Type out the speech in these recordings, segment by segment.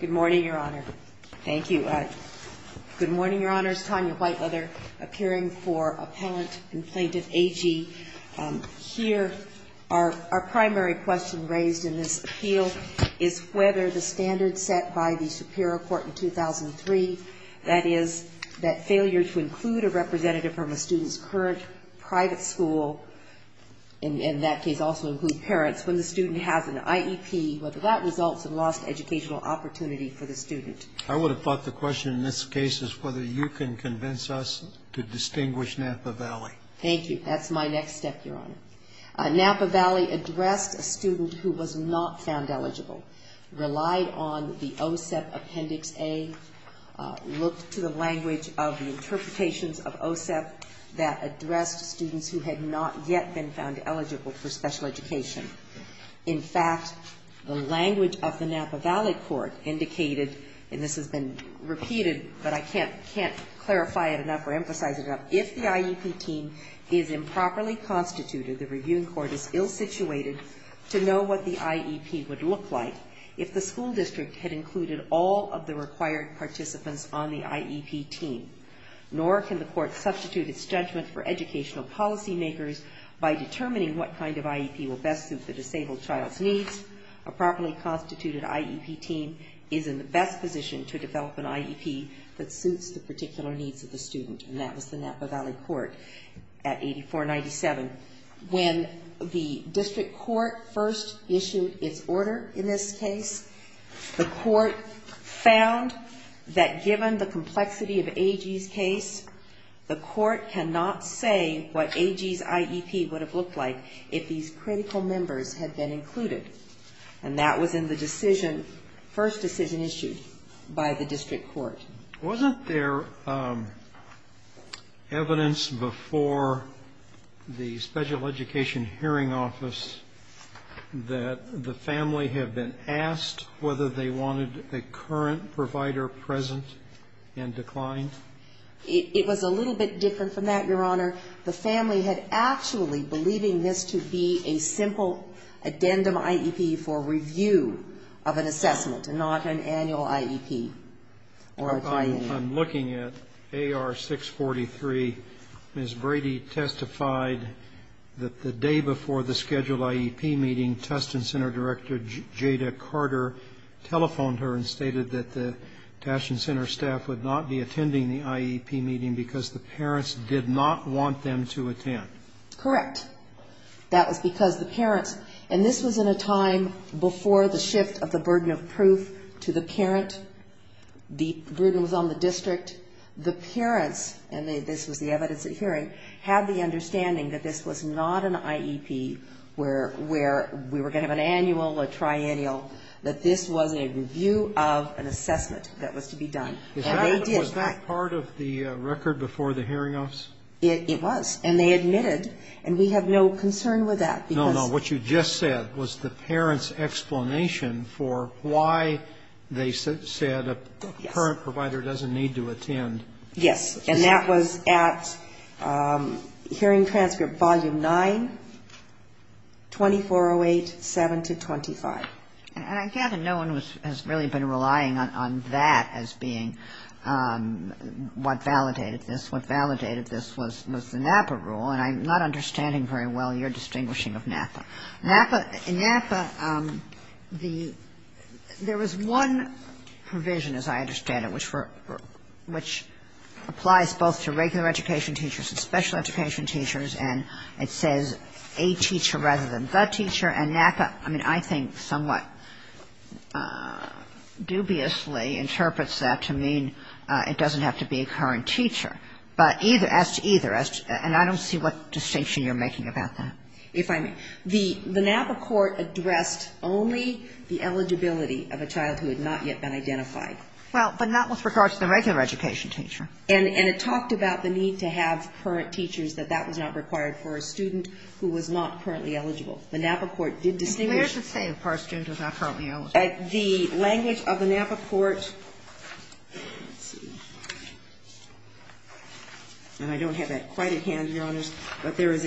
Good morning, Your Honor. Thank you. Good morning, Your Honors. Tanya Whiteleather appearing for Appellant Complaint of A.G. Here, our primary question raised in this appeal is whether the standard set by the Superior Court in 2003, that is, that failure to include a representative from a student's current private school, in that case also include parents, when the student has an IEP, whether that results in lost educational opportunity for the student. I would have thought the question in this case is whether you can convince us to distinguish Napa Valley. Thank you. That's my next step, Your Honor. Napa Valley addressed a student who was not found eligible, relied on the OSEP Appendix A, looked to the language of the interpretations of OSEP that addressed students who had not yet been found eligible for special education. In fact, the language of the Napa Valley court indicated, and this has been repeated, but I can't clarify it enough or emphasize it enough, if the IEP team is improperly constituted, the reviewing court is ill-situated to know what the IEP would look like if the school district had included all of the required participants on the IEP team, nor can the court substitute its judgment for educational policy makers by determining what kind of IEP will best suit the disabled child's needs. A properly constituted IEP team is in the best position to develop an IEP that suits the particular needs of the student, and that was the Napa Valley court at 84-97. When the district court first issued its order in this case, the court found that given the complexity of AG's case, the court cannot say what AG's IEP would have looked like if these critical members had been included, and that was in the decision, first decision issued by the district court. Sotomayor, wasn't there evidence before the Special Education Hearing Office that the family had been asked whether they wanted a current provider present and declined? It was a little bit different from that, Your Honor. The family had actually believed this to be a simple addendum IEP for review of an assessment, and not an annual IEP. I'm looking at AR-643. Ms. Brady testified that the day before the scheduled IEP meeting, Tustin Center Director Jada Carter telephoned her and stated that the Tustin Center staff would not be attending the IEP meeting because the parents did not want them to attend. Correct. That was because the parents, and this was in a time before the shift of the burden of proof to the parent. The burden was on the district. The parents, and this was the evidence at hearing, had the understanding that this was not an IEP where we were going to have an annual, a triennial, that this was a review of an assessment that was to be done. And they did. Was that part of the record before the hearing office? It was. And they admitted. And we have no concern with that. No, no. What you just said was the parents' explanation for why they said a parent provider doesn't need to attend. Yes. And that was at hearing transcript volume 9, 2408.7-25. And I gather no one has really been relying on that as being what validated this. What validated this was the NAPA rule. And I'm not understanding very well your distinguishing of NAPA. In NAPA, there was one provision, as I understand it, which applies both to regular education teachers and special education teachers, and it says a teacher rather than the teacher. And NAPA, I mean, I think somewhat dubiously interprets that to mean it doesn't have to be a current teacher, but either as to either. And I don't see what distinction you're making about that. If I may. The NAPA court addressed only the eligibility of a child who had not yet been identified. Well, but not with regard to the regular education teacher. And it talked about the need to have current teachers, that that was not required for a student who was not currently eligible. The NAPA court did distinguish. Where does it say if a student is not currently eligible? The language of the NAPA court, let's see, and I don't have that quite at hand, Your Honors, but there's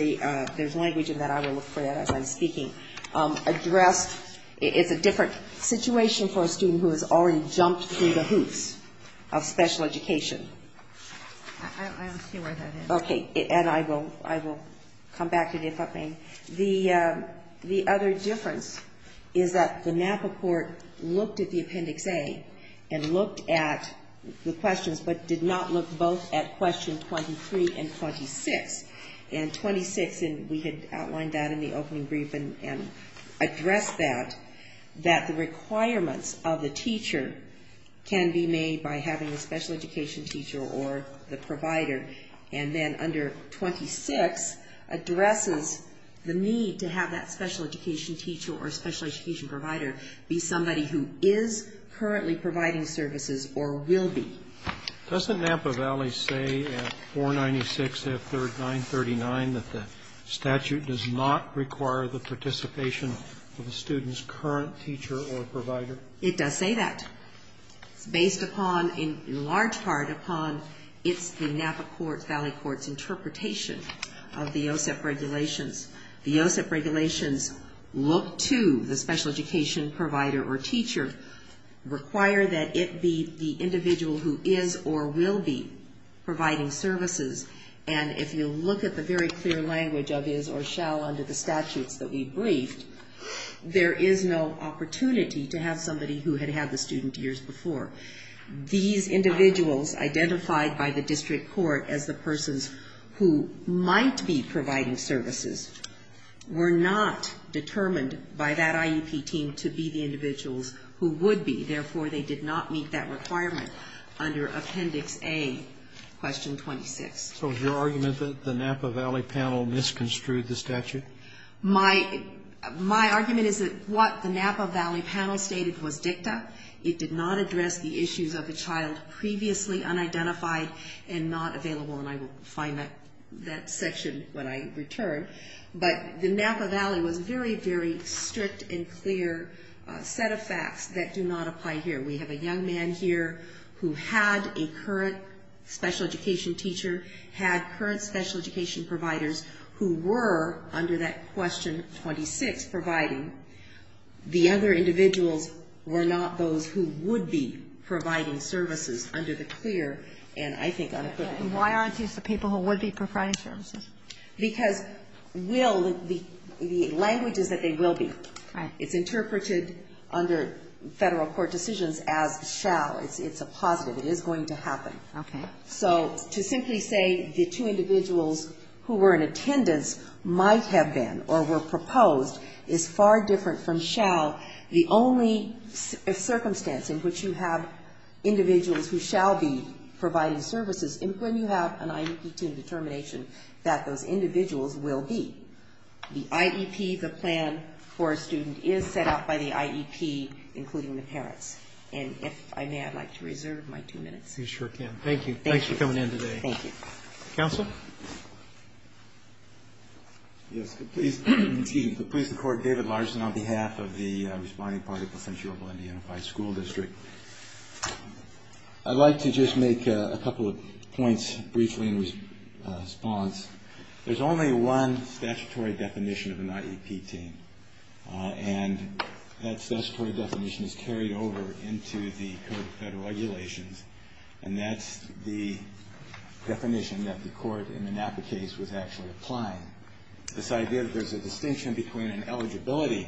language in that. I will look for that as I'm speaking. Addressed, it's a different situation for a student who has already jumped through the hoops of special education. I don't see where that is. Okay. And I will come back to it if I may. The other difference is that the NAPA court looked at the Appendix A and looked at the questions, but did not look both at question 23 and 26. And 26, and we had outlined that in the opening brief and addressed that, that the requirements of the teacher can be made by having a special education teacher or the provider. And then under 26 addresses the need to have that special education teacher or special education provider be somebody who is currently providing services or will be. Doesn't NAPA Valley say at 496F939 that the statute does not require the participation of a student's current teacher or provider? It does say that. It's based upon, in large part, upon the NAPA Valley Court's interpretation of the OSEP regulations. The OSEP regulations look to the special education provider or teacher, require that it be the individual who is or will be providing services. And if you look at the very clear language of is or shall under the statutes that we briefed, there is no opportunity to have somebody who had had the student years before. These individuals identified by the district court as the persons who might be providing services were not determined by that IEP team to be the individuals who would be. Therefore, they did not meet that requirement under Appendix A, question 26. So is your argument that the NAPA Valley panel misconstrued the statute? My argument is that what the NAPA Valley panel stated was dicta. It did not address the issues of a child previously unidentified and not available. And I will find that section when I return. But the NAPA Valley was very, very strict and clear set of facts that do not apply here. We have a young man here who had a current special education teacher, had current special education providers who were, under that question 26, providing. The other individuals were not those who would be providing services under the clear and, I think, unequivocal. And why aren't these the people who would be providing services? Because will, the language is that they will be. Right. It's interpreted under Federal court decisions as shall. It's a positive. It is going to happen. Okay. So to simply say the two individuals who were in attendance might have been or were proposed is far different from shall. The only circumstance in which you have individuals who shall be providing services is when you have an IEP determination that those individuals will be. The IEP, the plan for a student, is set out by the IEP, including the parents. And if I may, I'd like to reserve my two minutes. Yes, you sure can. Thank you. Thanks for coming in today. Thank you. Counsel? Yes, please. Excuse me. Please, the Court. David Larson on behalf of the Responding Party, Placenta, Yorba, and the Unified School District. I'd like to just make a couple of points briefly in response. There's only one statutory definition of an IEP team, and that statutory definition is carried over into the Code of Federal Regulations, and that's the definition that the Court in the NAPA case was actually applying. This idea that there's a distinction between an eligibility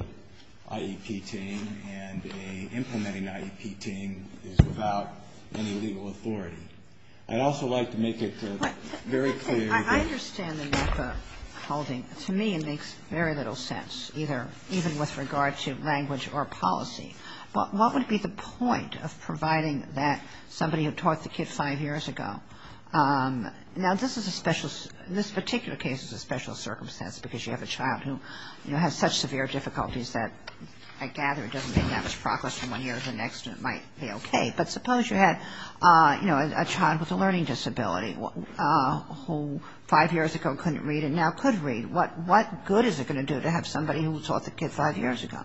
IEP team and an implementing IEP team is without any legal authority. I'd also like to make it very clear that the NAPA holding, to me, makes very little sense, even with regard to language or policy. But what would be the point of providing that somebody who taught the kid five years ago? Now, this particular case is a special circumstance because you have a child who has such severe difficulties that I gather it doesn't make that much progress from one year to the next, and it might be okay. But suppose you had a child with a learning disability who five years ago couldn't read and now could read. What good is it going to do to have somebody who taught the kid five years ago?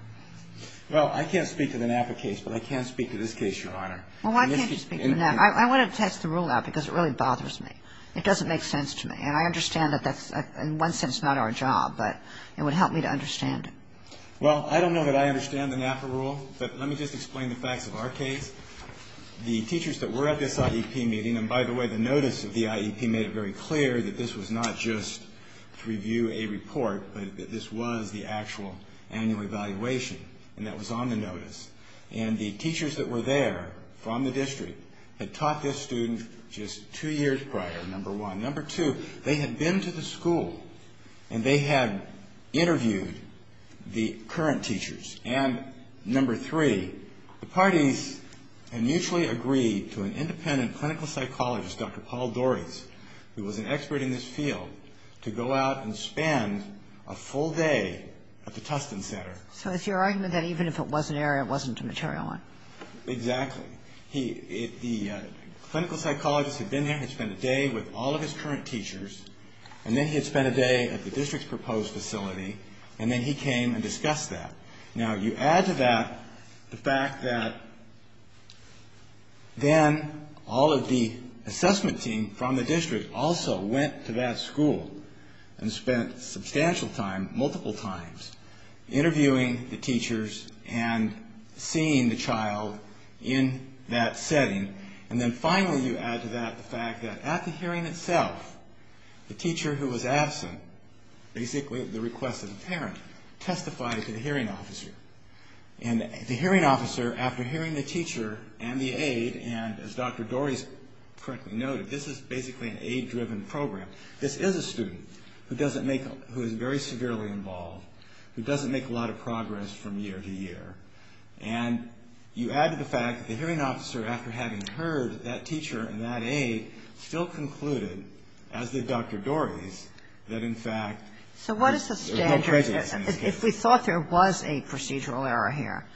Well, I can't speak to the NAPA case, but I can speak to this case, Your Honor. Well, why can't you speak to the NAPA? I want to test the rule out because it really bothers me. It doesn't make sense to me, and I understand that that's in one sense not our job, but it would help me to understand it. Well, I don't know that I understand the NAPA rule, but let me just explain the facts of our case. The teachers that were at this IEP meeting, and by the way, the notice of the IEP made it very clear that this was not just to review a report, but that this was the actual annual evaluation, and that was on the notice. And the teachers that were there from the district had taught this student just two years prior, number one. Number two, they had been to the school, and they had interviewed the current teachers. And number three, the parties had mutually agreed to an independent clinical psychologist, Dr. Paul Doris, who was an expert in this field, to go out and spend a full day at the Tustin Center. So it's your argument that even if it was an error, it wasn't a material one? Exactly. The clinical psychologist had been there, had spent a day with all of his current teachers, and then he had spent a day at the district's proposed facility, and then he came and discussed that. Now, you add to that the fact that then all of the assessment team from the district also went to that school and spent substantial time, multiple times, interviewing the teachers and seeing the child in that setting. And then finally, you add to that the fact that at the hearing itself, the teacher who was absent, basically at the request of the parent, testified to the hearing officer. And the hearing officer, after hearing the teacher and the aide, and as Dr. Doris correctly noted, this is basically an aide-driven program. This is a student who is very severely involved, who doesn't make a lot of progress from year to year. And you add to the fact that the hearing officer, after having heard that teacher and that aide, still concluded, as did Dr. Doris, that in fact there's no prejudice in this case. So what is the standard? If we thought there was a procedural error here,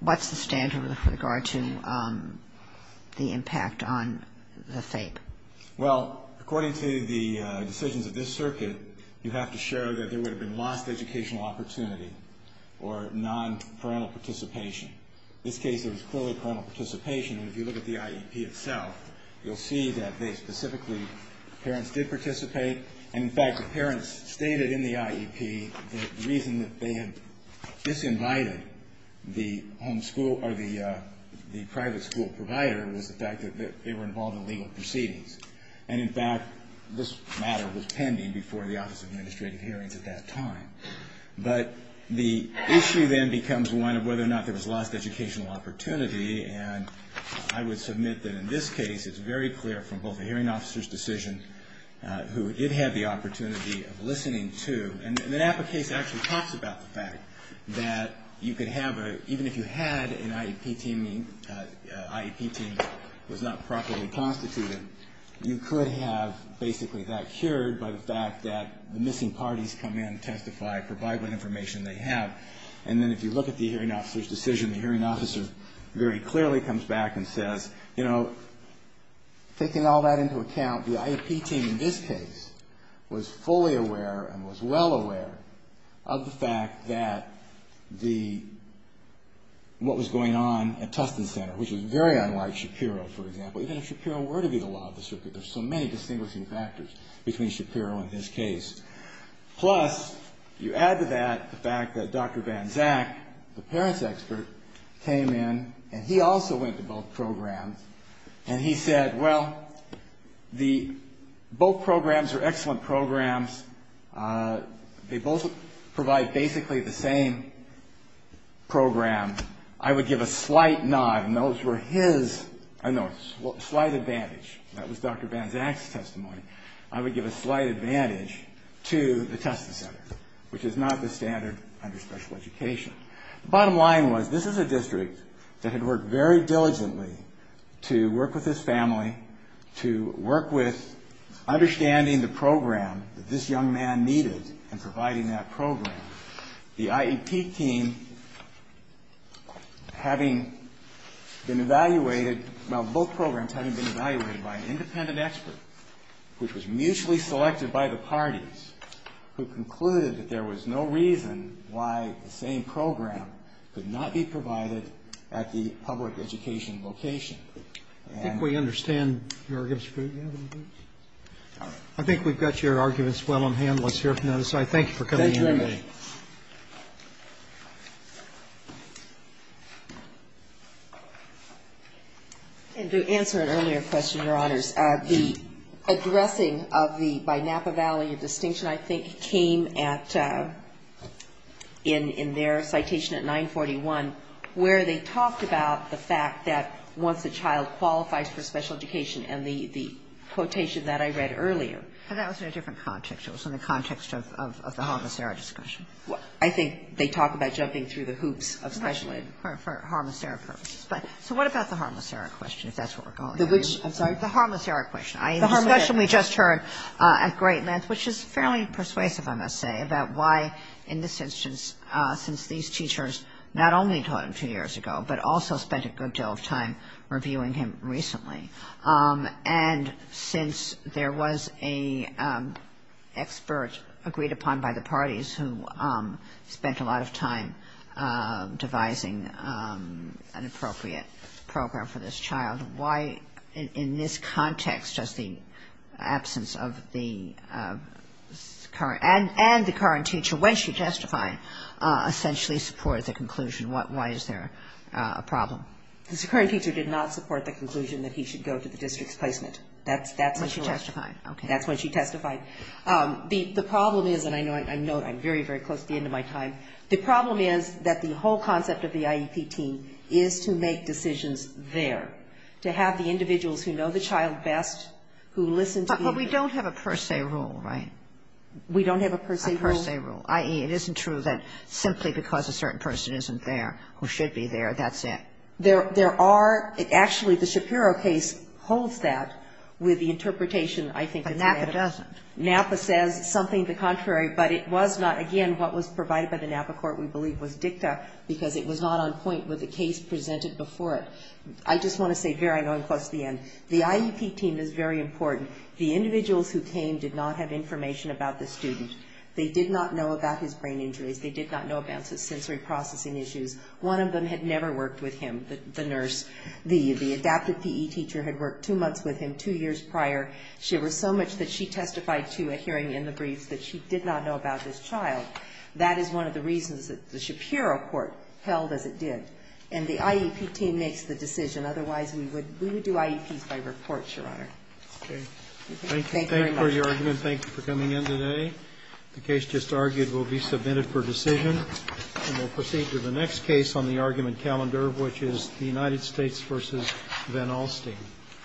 what's the standard with regard to the impact on the FAPE? Well, according to the decisions of this circuit, you have to show that there would have been lost educational opportunity or non-parental participation. In this case, there was clearly parental participation. If you look at the IEP itself, you'll see that they specifically, parents did participate. And in fact, the parents stated in the IEP that the reason that they had disinvited the private school provider was the fact that they were involved in legal proceedings. And in fact, this matter was pending before the Office of Administrative Hearings at that time. But the issue then becomes one of whether or not there was lost educational opportunity. And I would submit that in this case, it's very clear from both the hearing officer's decision, who it had the opportunity of listening to. And the NAPA case actually talks about the fact that you could have a, even if you had an IEP team that was not properly constituted, you could have basically that cured by the fact that the missing parties come in, testify, provide what information they have. And then if you look at the hearing officer's decision, the hearing officer very clearly comes back and says, you know, taking all that into account, the IEP team in this case was fully aware and was well aware of the fact that the, what was going on at Tustin Center, which was very unlike Shapiro, for example. Even if Shapiro were to be the law of the circuit, there's so many distinguishing factors between Shapiro and his case. Plus, you add to that the fact that Dr. Van Zak, the parents' expert, came in, and he also went to both programs, and he said, well, both programs are excellent programs. They both provide basically the same program. I would give a slight nod, and those were his, no, slight advantage. That was Dr. Van Zak's testimony. I would give a slight advantage to the Tustin Center, which is not the standard under special education. The bottom line was this is a district that had worked very diligently to work with his family, to work with understanding the program that this young man needed and providing that program. The IEP team, having been evaluated, well, both programs having been evaluated by an independent expert, which was mutually selected by the parties, who concluded that there was no reason why the same program could not be provided at the public education location. And we understand your arguments. I think we've got your arguments well on hand. Let's hear from the other side. Thank you for coming in today. And to answer an earlier question, Your Honors, the addressing of the, by Napa Valley, a distinction I think came at, in their citation at 941, where they talked about the fact that once a child qualifies for special education, and the quotation that I read earlier. And that was in a different context. It was in the context of the harmocera discussion. I think they talk about jumping through the hoops of special ed. For harmocera purposes. So what about the harmocera question, if that's where we're going? The which? I'm sorry? The harmocera question. The harmocera question we just heard at Great Lens, which is fairly persuasive, I must say, about why in this instance, since these teachers not only taught him two years ago, but also spent a good deal of time reviewing him recently. And since there was an expert agreed upon by the parties who spent a lot of time devising an appropriate program for this child, why in this context does the absence of the current, and the current teacher, when she testified, essentially support the conclusion? Why is there a problem? The current teacher did not support the conclusion that he should go to the district's placement. That's when she testified. Okay. That's when she testified. The problem is, and I know I'm very, very close to the end of my time, the problem is that the whole concept of the IEP team is to make decisions there, to have the individuals who know the child best, who listen to you. But we don't have a per se rule, right? We don't have a per se rule? A per se rule, i.e., it isn't true that simply because a certain person isn't there who should be there, that's it? There are actually, the Shapiro case holds that with the interpretation I think of NAPA. But NAPA doesn't. NAPA says something the contrary, but it was not, again, what was provided by the NAPA court, we believe, was dicta, because it was not on point with the case presented before it. I just want to say, very, I know I'm close to the end, the IEP team is very important. The individuals who came did not have information about the student. They did not know about his brain injuries. They did not know about his sensory processing issues. One of them had never worked with him, the nurse. The adaptive PE teacher had worked two months with him, two years prior. There was so much that she testified to, a hearing in the briefs, that she did not know about this child. That is one of the reasons that the Shapiro court held as it did. And the IEP team makes the decision. Otherwise, we would do IEPs by report, Your Honor. Thank you very much. Thank you for your argument. Thank you for coming in today. The case just argued will be submitted for decision. And we'll proceed to the next case on the argument calendar, which is the United States v. Van Alstyne.